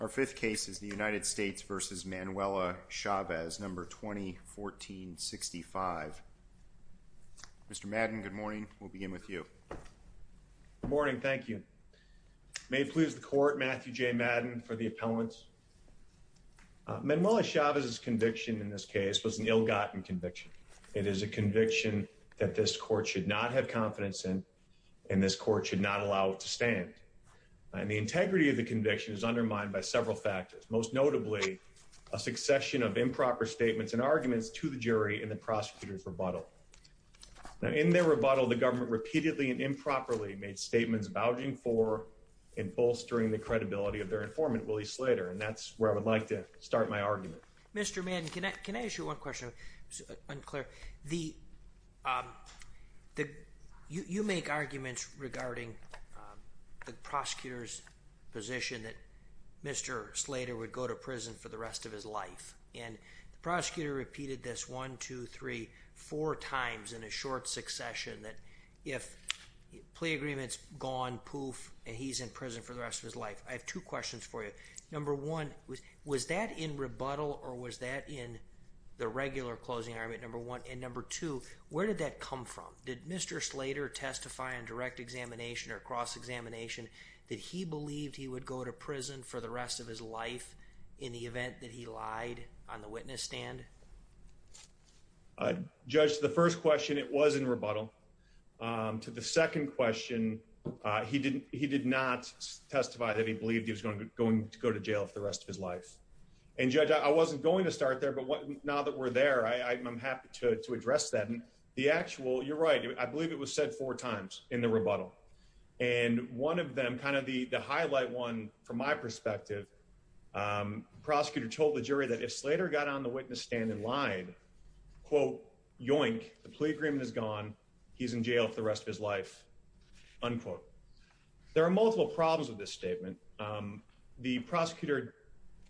Our fifth case is the United States v. Manuela Chavez, No. 2014-65. Mr. Madden, good morning. We'll begin with you. Good morning. Thank you. May it please the Court, Matthew J. Madden for the appellants. Manuela Chavez's conviction in this case was an ill-gotten conviction. It is a conviction that this Court should not have confidence in, and this Court should not allow it to stand. The integrity of the conviction is undermined by several factors, most notably a succession of improper statements and arguments to the jury in the prosecutor's rebuttal. In their rebuttal, the government repeatedly and improperly made statements vouching for and bolstering the credibility of their informant, Willie Slater, and that's where I would like to start my argument. Mr. Madden, can I ask you one question? It's unclear. You make arguments regarding the prosecutor's position that Mr. Slater would go to prison for the rest of his life, and the prosecutor repeated this one, two, three, four times in a short succession that if plea agreement's gone, poof, and he's in prison for the rest of his life. I have two questions for you. Number one, was that in rebuttal or was that in the regular closing argument, number one? And number two, where did that come from? Did Mr. Slater testify on direct examination or cross-examination that he believed he would go to prison for the rest of his life in the event that he lied on the witness stand? Judge, to the first question, it was in rebuttal. To the second question, he did not testify that he believed he was going to go to jail for the rest of his life. And Judge, I wasn't going to start there, but now that we're there, I'm happy to address that. The actual, you're right, I believe it was said four times in the rebuttal. And one of them, kind of the highlight one from my perspective, the prosecutor told the jury that if Slater got on the witness stand and lied, quote, yoink, the plea agreement is gone, he's in jail for the rest of his life, unquote. There are multiple problems with this statement. The prosecutor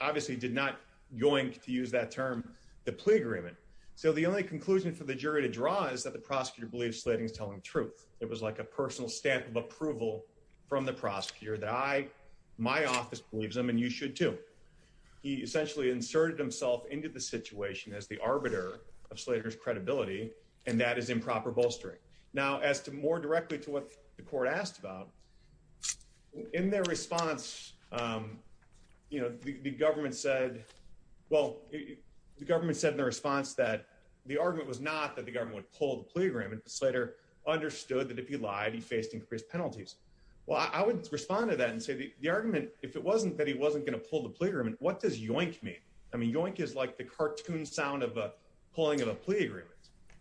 obviously did not yoink, to use that term, the plea agreement. So the only conclusion for the jury to draw is that the prosecutor believes Slater is telling the truth. It was like a personal stamp of approval from the prosecutor that I, my office believes him, and you should too. He essentially inserted himself into the situation as the arbiter of Slater's credibility, and that is improper bolstering. Now, as to more directly to what the court asked about, in their response, you know, the government said, well, the government said in their response that the argument was not that the government would pull the plea agreement, but Slater understood that if he lied, he faced increased penalties. Well, I would respond to that and say the argument, if it wasn't that he wasn't going to pull the plea agreement, what does yoink mean? I mean, yoink is like the cartoon sound of a pulling of a plea agreement.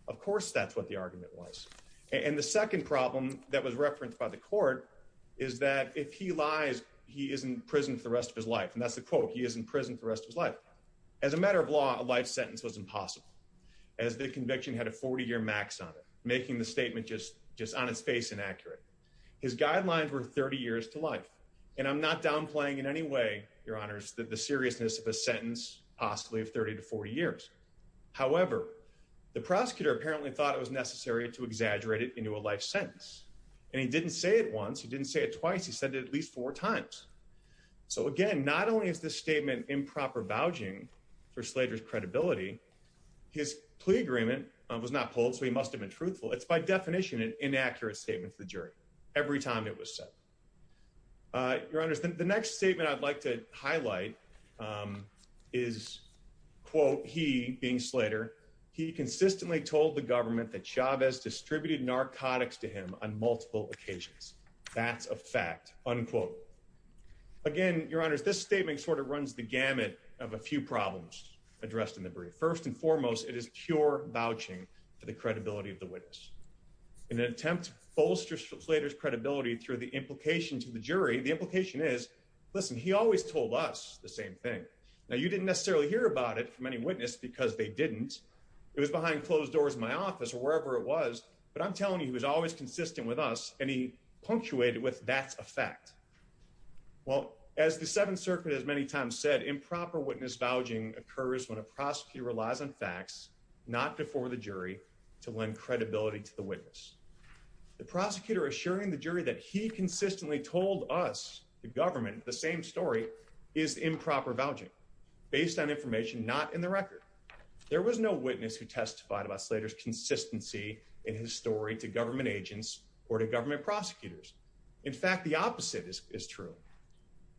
Of course, that's what the argument was. And the second problem that was referenced by the court is that if he lies, he isn't prison for the rest of his life. And that's the quote, he isn't prison for the rest of his life. As a matter of law, a life sentence was impossible. As the conviction had a 40 year max on it, making the statement just on its face inaccurate. His guidelines were 30 years to life. And I'm not downplaying in any way, your honors, that the seriousness of a sentence possibly of 30 to 40 years. However, the prosecutor apparently thought it was necessary to exaggerate it into a life sentence. And he didn't say it once. He didn't say it twice. He said it at least four times. So again, not only is this statement improper vouching for Slater's credibility, his plea agreement was not pulled. So he must've been truthful. It's by definition, an inaccurate statement to the jury. Every time it was said, your honors, the next statement I'd like to highlight is quote, he being Slater. He consistently told the government that Chavez distributed narcotics to him on multiple occasions. That's a fact unquote. Again, your honors, this statement sort of runs the gamut of a few problems addressed in the brief. First and foremost, it is pure vouching for the credibility of the witness in an attempt to bolster Slater's credibility through the implication to the jury. The implication is listen, he always told us the same thing. Now you didn't necessarily hear about it from any witness because they didn't, it was behind closed doors in my office or wherever it was, but I'm telling you, he was always consistent with us. And he punctuated with that's a fact. Well, as the seventh circuit, as many times said, improper witness vouching occurs when a prosecutor relies on facts, not before the jury to lend credibility to the witness, the prosecutor, assuring the jury that he consistently told us the government, the same story is improper vouching based on information, not in the record. There was no witness who testified about Slater's consistency in his story to government agents or to government prosecutors. In fact, the opposite is true,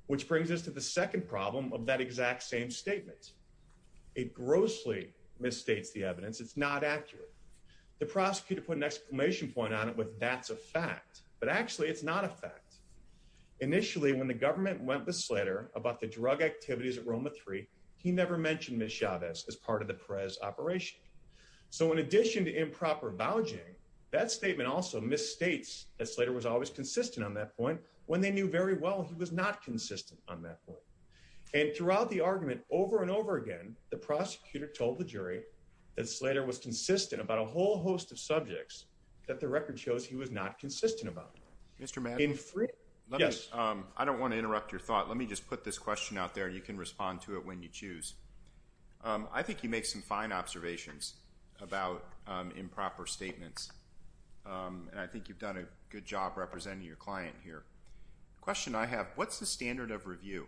which brings us to the second problem of that exact same statement. It grossly misstates the evidence. It's not accurate. The prosecutor put an exclamation point on it with that's a fact, but actually it's not a fact. Initially when the government went with Slater about the drug activities at Roma three, he never mentioned Ms. Chavez as part of the press operation. So in addition to improper vouching, that statement also misstates that Slater was always consistent on that point when they knew very well, he was not consistent on that point. And throughout the argument over and over again, the prosecutor told the jury that Slater was consistent about a whole host of subjects that the record shows he was not consistent about. Mr. Madden. Yes. I don't want to interrupt your thought. Let me just put this question out there and you can respond to it when you choose. I think he makes some fine observations about improper statements. And I think you've done a good job representing your client here. Question I have, what's the standard of review?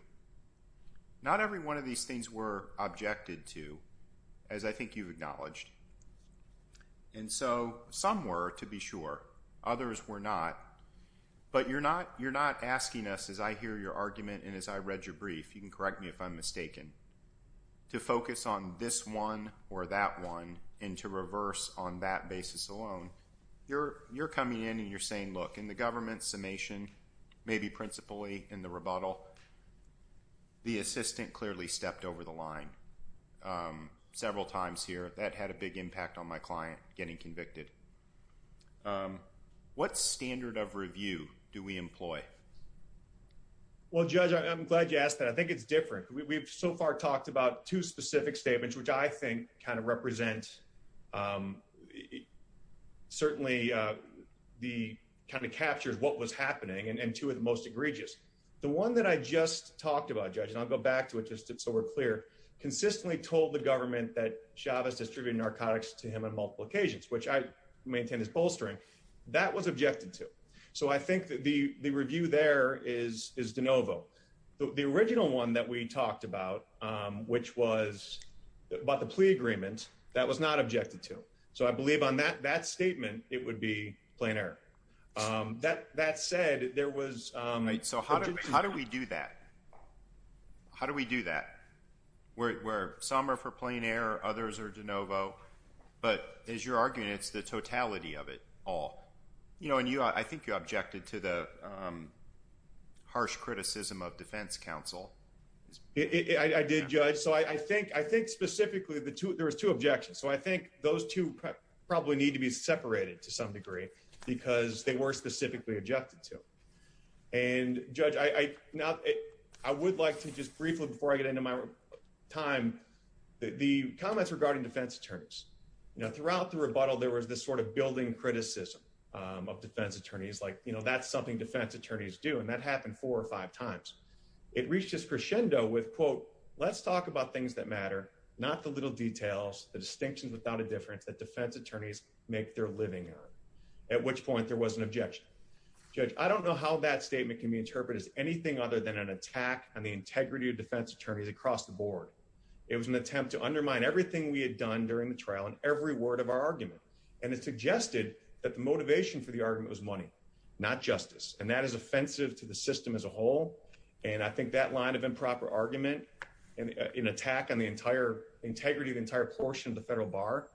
Not every one of these things were objected to as I think you've acknowledged. And so some were to be sure, others were not. But you're not asking us as I hear your argument and as I read your brief, you can correct me if I'm mistaken, to focus on this one or that one and to reverse on that basis alone. You're coming in and you're saying, look, in the government summation, maybe principally in the rebuttal, the assistant clearly stepped over the line several times here that had a big impact on my client getting convicted. What standard of review do we employ? Well, judge, I'm glad you asked that. I think it's different. We've so far talked about two specific statements, which I think kind of represent certainly the kind of captures what was happening. And two of the most egregious, the one that I just talked about, judge, and I'll go back to it just so we're clear consistently told the government that Chavez distributed narcotics to him on multiple occasions, which I maintain is bolstering that was objected to. So I think that the review there is DeNovo. The original one that we talked about, which was about the plea agreement that was not objected to. So I believe on that, that statement, it would be plainer that, that said there was. So how do we do that? How do we do that? Where some are for plain air, others are DeNovo, but as you're arguing, it's the totality of it all, you know, and you, I think you objected to the harsh criticism of defense council. I did judge. So I think, I think specifically the two, there was two objections. So I think those two probably need to be separated to some degree because they were specifically objected to. And judge, I, I, not, I would like to just briefly before I get into my time, the comments regarding defense attorneys, you know, throughout the rebuttal, there was this sort of building criticism of defense attorneys, like, you know, that's something defense attorneys do. And that happened four or five times. It reached this crescendo with quote, let's talk about things that matter, not the little details, the distinctions without a difference that defense attorneys make their living on. At which point there was an objection judge. I don't know how that statement can be interpreted as anything other than an attack on the integrity of defense attorneys across the board. It was an attempt to undermine everything we had done during the trial and every word of our argument. And it suggested that the motivation for the argument was money, not justice. And that is offensive to the system as a whole. And I think that line of improper argument and an attack on the entire integrity of the entire portion of the federal bar,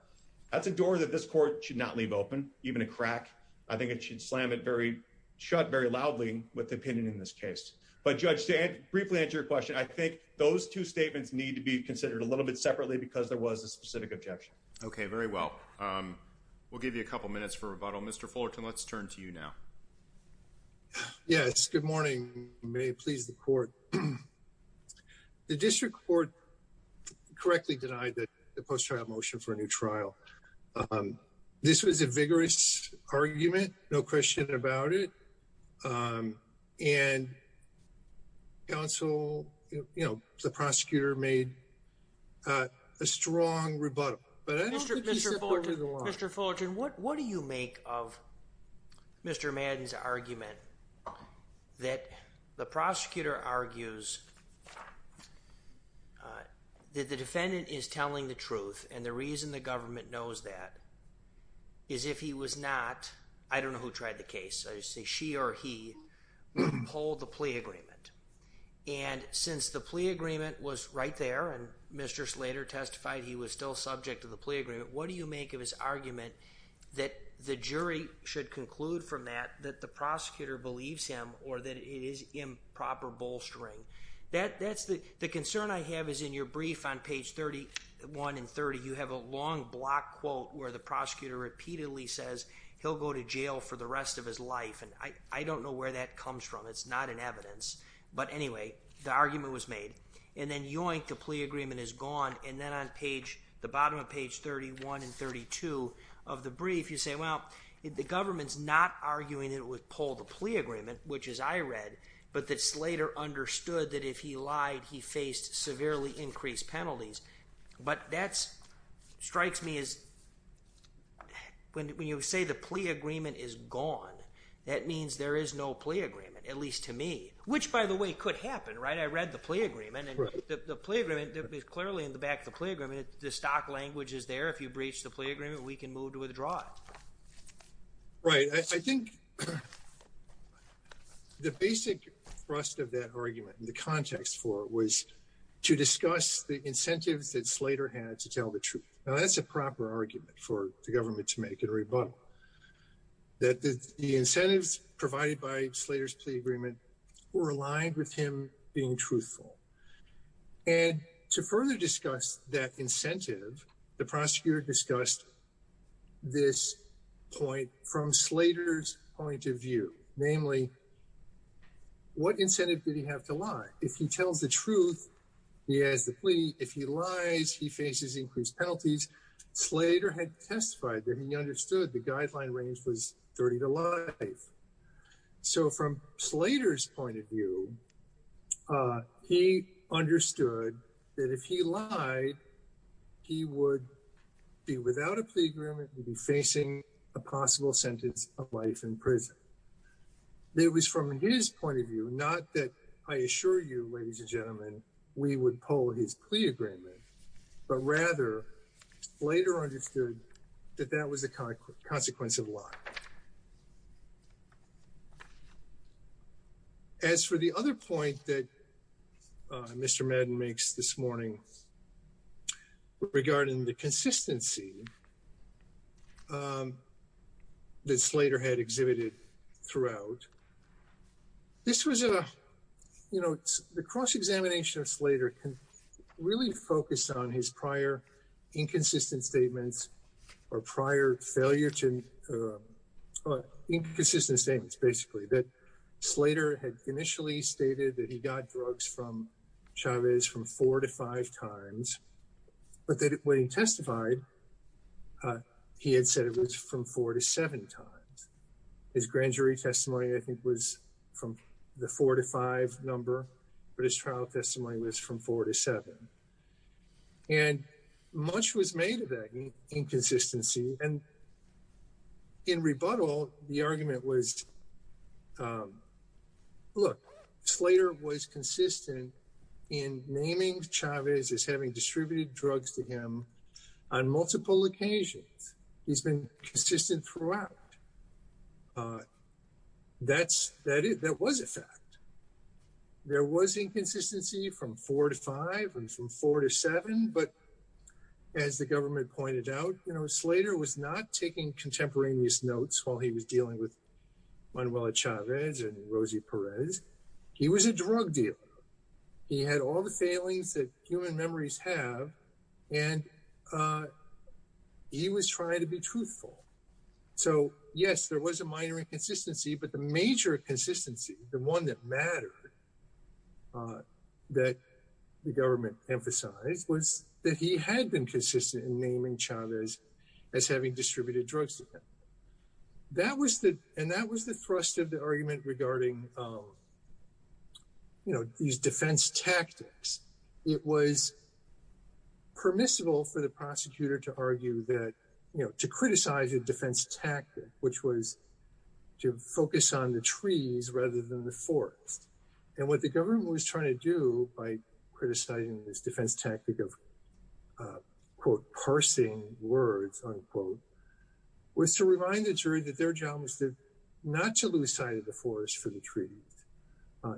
that's a door that this court should not leave open even a crack. I think it should slam it very shut very loudly with the opinion in this case. But judge said, briefly answer your question. I think those two statements need to be considered a little bit separately because there was a specific objection. Okay. Very well. We'll give you a couple minutes for rebuttal. Mr. Fullerton, let's turn to you now. Yes. Good morning. May it please the court. The district court correctly denied that the post trial motion for a new trial. This was a vigorous argument, no question about it. And council, you know, the prosecutor made a strong rebuttal, Mr. Fullerton, what, what do you make of Mr. Madden's argument that the prosecutor argues that the defendant is telling the truth? And the reason the government knows that is if he was not, I don't know who tried the case. I just say, she or he pulled the plea agreement. And since the plea agreement was right there and Mr. Slater testified, he was still subject to the plea agreement. What do you make of his argument that the jury should conclude from that, that the prosecutor believes him or that it is improper bolstering that that's the, the concern I have is in your brief on page 31 and 30, you have a long block quote where the prosecutor repeatedly says he'll go to jail for the rest of his life. And I, I don't know where that comes from. It's not an evidence, but anyway, the argument was made and then yoink the plea agreement is gone. And then on page the bottom of page 31 and 32 of the brief, you say, well, the government's not arguing that it would pull the plea agreement, which is I read, but that Slater understood that if he lied, he faced severely increased penalties. But that's strikes me as when you say the plea agreement is gone, that means there is no plea agreement, at least to me, which by the way could happen, right? I read the plea agreement and the plea agreement is clearly in the back of the plea agreement. The stock language is there. If you breach the plea agreement, we can move to withdraw it. Right. I think the basic thrust of that argument and the context for it was to discuss the incentives that Slater had to tell the truth. Now that's a proper argument for the government to make a rebuttal that the incentives provided by Slater's plea agreement were aligned with him being truthful. And to further discuss that incentive, the prosecutor discussed this point from Slater's point of view, namely what incentive did he have to lie? If he tells the truth, he has the plea. If he lies, he faces increased penalties. Slater had testified that he understood the guideline range was 30 to life. So from Slater's point of view he understood that if he lied, he would be without a plea agreement, would be facing a possible sentence of life in prison. It was from his point of view, not that I assure you, ladies and gentlemen, we would pull his plea agreement, but rather Slater understood that that was a consequence of lying. As for the other point that Mr. Madden makes this morning regarding the consistency that Slater had exhibited throughout, this was a, you know, the cross-examination of Slater can really focus on his prior inconsistent statements or prior failure to, or inconsistent statements, basically that Slater had initially stated that he got drugs from Chavez from four to five times, but that when he testified, he had said it was from four to seven times. His grand jury testimony, I think was from the four to five number, but his trial testimony was from four to seven and much was made of that inconsistency. And in rebuttal, the argument was look, Slater was consistent in naming Chavez as having distributed drugs to him on multiple occasions. He's been consistent throughout. That's, that was a fact. There was inconsistency from four to five and from four to seven, but as the government pointed out, you know, Slater was not taking contemporaneous notes while he was dealing with Manuela Chavez and Rosie Perez. He was a drug dealer. He had all the failings that human memories have, and he was trying to be truthful. So yes, there was a minor inconsistency, but the major consistency, the one that mattered, that the government emphasized was that he had been consistent in naming Chavez as having distributed drugs to him. That was the, and that was the thrust of the argument regarding, you know, these defense tactics. It was permissible for the prosecutor to argue that, you know, to criticize a defense tactic, which was to focus on the trees rather than the forest. And what the government was trying to do by criticizing this defense tactic of quote, parsing words, unquote, was to remind the jury that their job was to not to lose sight of the forest for the trees,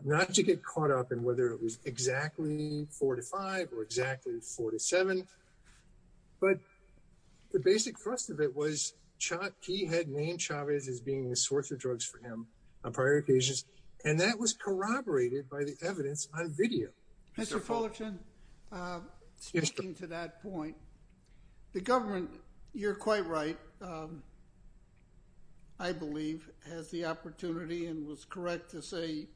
not to get caught up in whether it was exactly four to five or exactly four to seven. But the basic thrust of it was he had named Chavez as being the source of drugs for him on prior occasions. And that was corroborated by the evidence on video. Mr. Fullerton, speaking to that point, the government, you're quite right. I believe has the opportunity and was correct to say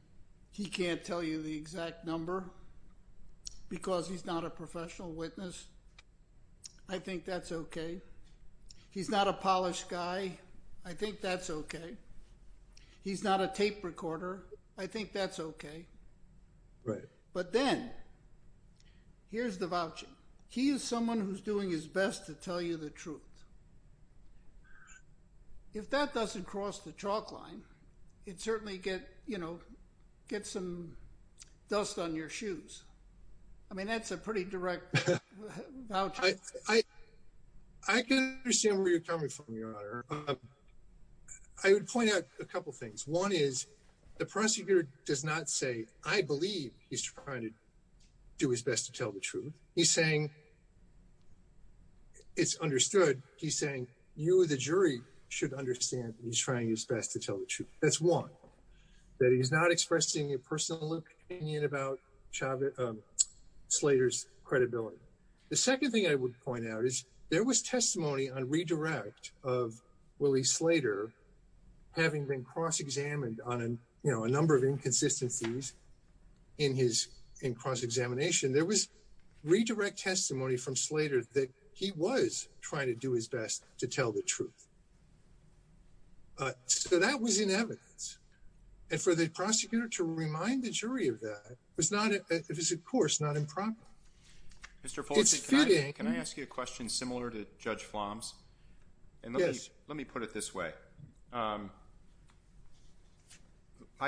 he can't tell you the exact number because he's not a professional witness. I think that's okay. He's not a polished guy. I think that's okay. He's not a tape recorder. I think that's okay. Right. But then here's the voucher. He is someone who's doing his best to tell you the truth. If that doesn't cross the chalk line, it certainly get, you know, get some dust on your shoes. I mean, that's a pretty direct. I can see where you're coming from. I would point out a couple of things. One is the prosecutor does not say, I believe he's trying to do his best to tell the truth. He's saying it's understood. He's saying you, the jury should understand that he's trying his best to tell the truth. That's one that he's not expressing your personal opinion about Slater's credibility. The second thing I would point out is there was testimony on redirect of Willie Slater having been cross-examined on, you know, a number of inconsistencies in his, in cross-examination. There was redirect testimony from Slater that he was trying to do his best to tell the truth. So that was in evidence and for the prosecutor to remind the jury of that was not, it was of course not improper. Can I ask you a question similar to judge Floms and let me put it this way. I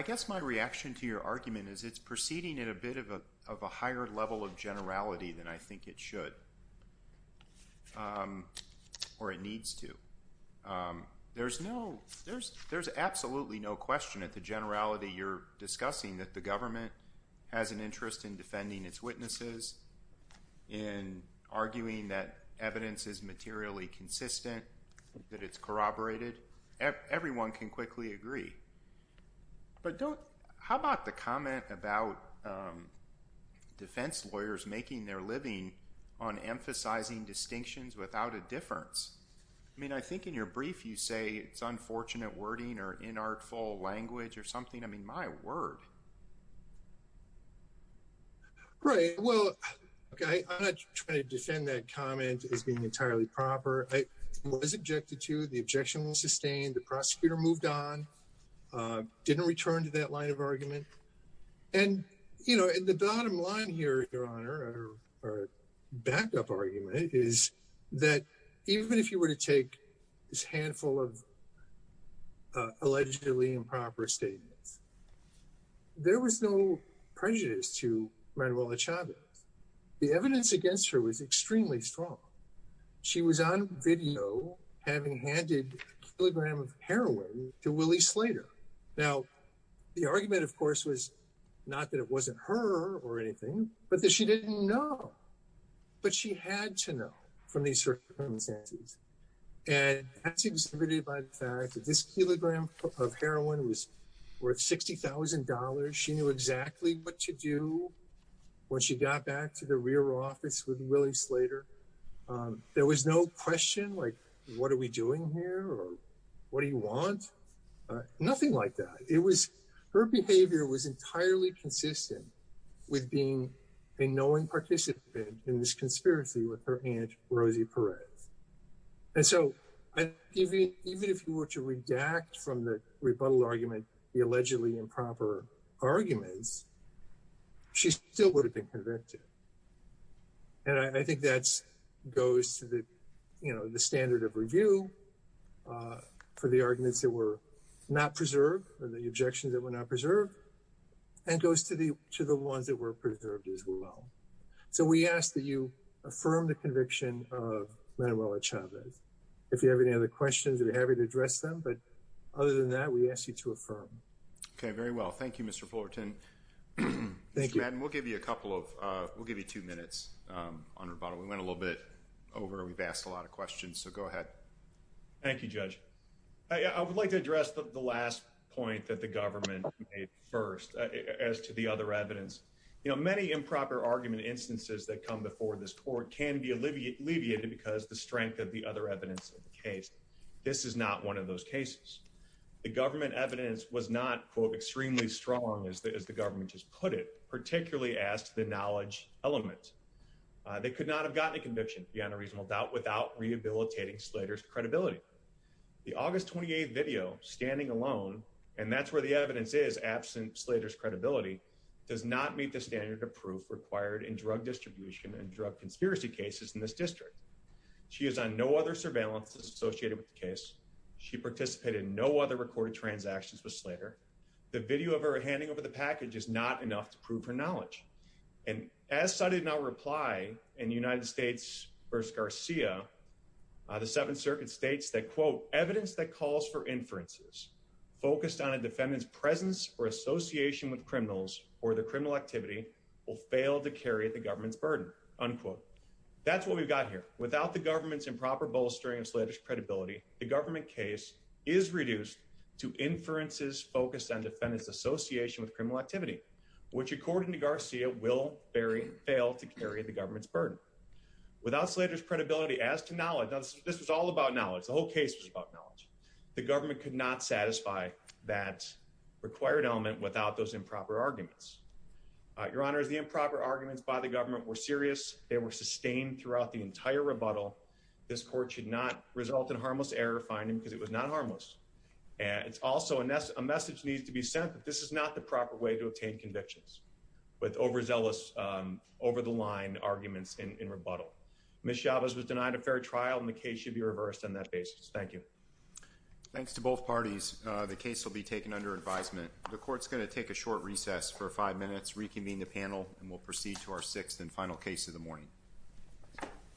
guess my reaction to your argument is it's proceeding in a bit of a, of a higher level of generality than I think it should. Or it needs to. There's no, there's, there's absolutely no question at the generality you're discussing that the jury has been arguing that evidence is materially consistent, that it's corroborated. Everyone can quickly agree, but don't, how about the comment about defense lawyers making their living on emphasizing distinctions without a difference? I mean, I think in your brief you say it's unfortunate wording or inartful language or something. I mean, my word. Right. Well, okay. I'm not trying to defend that comment as being entirely proper. I was objected to the objection was sustained. The prosecutor moved on, didn't return to that line of argument. And you know, in the bottom line here, your honor, or backed up argument is that even if you were to take this handful of allegedly improper statements, there was no prejudice to Manuela Chavez. The evidence against her was extremely strong. She was on video having handed a kilogram of heroin to Willie Slater. Now the argument of course was not that it wasn't her or anything, but that she didn't know, but she had to know from these circumstances and that's exhibited by the evidence. This kilogram of heroin was worth $60,000. She knew exactly what to do when she got back to the rear office with Willie Slater. There was no question like, what are we doing here? Or what do you want? Nothing like that. It was, her behavior was entirely consistent with being a knowing participant in this conspiracy with her aunt, Rosie Perez. And so, even if you were to redact from the rebuttal argument, the allegedly improper arguments, she still would have been convicted. And I think that's, goes to the, you know, the standard of review, for the arguments that were not preserved or the objections that were not preserved and goes to the, to the ones that were preserved as well. So we ask that you affirm the conviction of Manuela Chavez. If you have any other questions, we'd be happy to address them. But other than that, we ask you to affirm. Okay. Very well. Thank you, Mr. Fullerton. We'll give you a couple of, we'll give you two minutes on rebuttal. We went a little bit over, we've asked a lot of questions, so go ahead. Thank you, judge. I would like to address the last point that the government made first as to the other evidence, you know, many improper argument instances that come before this court can be alleviated because the strength of the other evidence of the case. This is not one of those cases. The government evidence was not quote, extremely strong as the, as the government has put it, particularly asked the knowledge element. They could not have gotten a conviction beyond a reasonable doubt without rehabilitating Slater's credibility, the August 28th video standing alone. And that's where the evidence is absent Slater's credibility. Does not meet the standard of proof required in drug distribution and drug conspiracy cases in this district. She is on no other surveillance associated with the case. She participated in no other recorded transactions with Slater. The video of her handing over the package is not enough to prove her knowledge. And as I did not reply in the United States versus Garcia, the seventh circuit States that quote evidence that calls for inferences focused on a defendant's presence or association with criminals or the criminal activity will fail to carry the government's burden. Unquote. That's what we've got here without the government's improper bolstering of Slater's credibility. The government case is reduced to inferences focused on defendants association with criminal activity, which according to Garcia will vary, fail to carry the government's burden without Slater's credibility as to knowledge. This was all about knowledge. The whole case was about knowledge. The government could not satisfy that required element without those improper arguments. Your Honor is the improper arguments by the government were serious. They were sustained throughout the entire rebuttal. This court should not result in harmless error finding because it was not harmless. And it's also a mess. A message needs to be sent that this is not the proper way to obtain convictions with overzealous over the line arguments in rebuttal. Ms. Chavez was denied a fair trial and the case should be reversed on that basis. Thank you. Thanks to both parties. The case will be taken under advisement. The court's going to take a short recess for five minutes. Reconvene the panel and we'll proceed to our sixth and final case of the morning.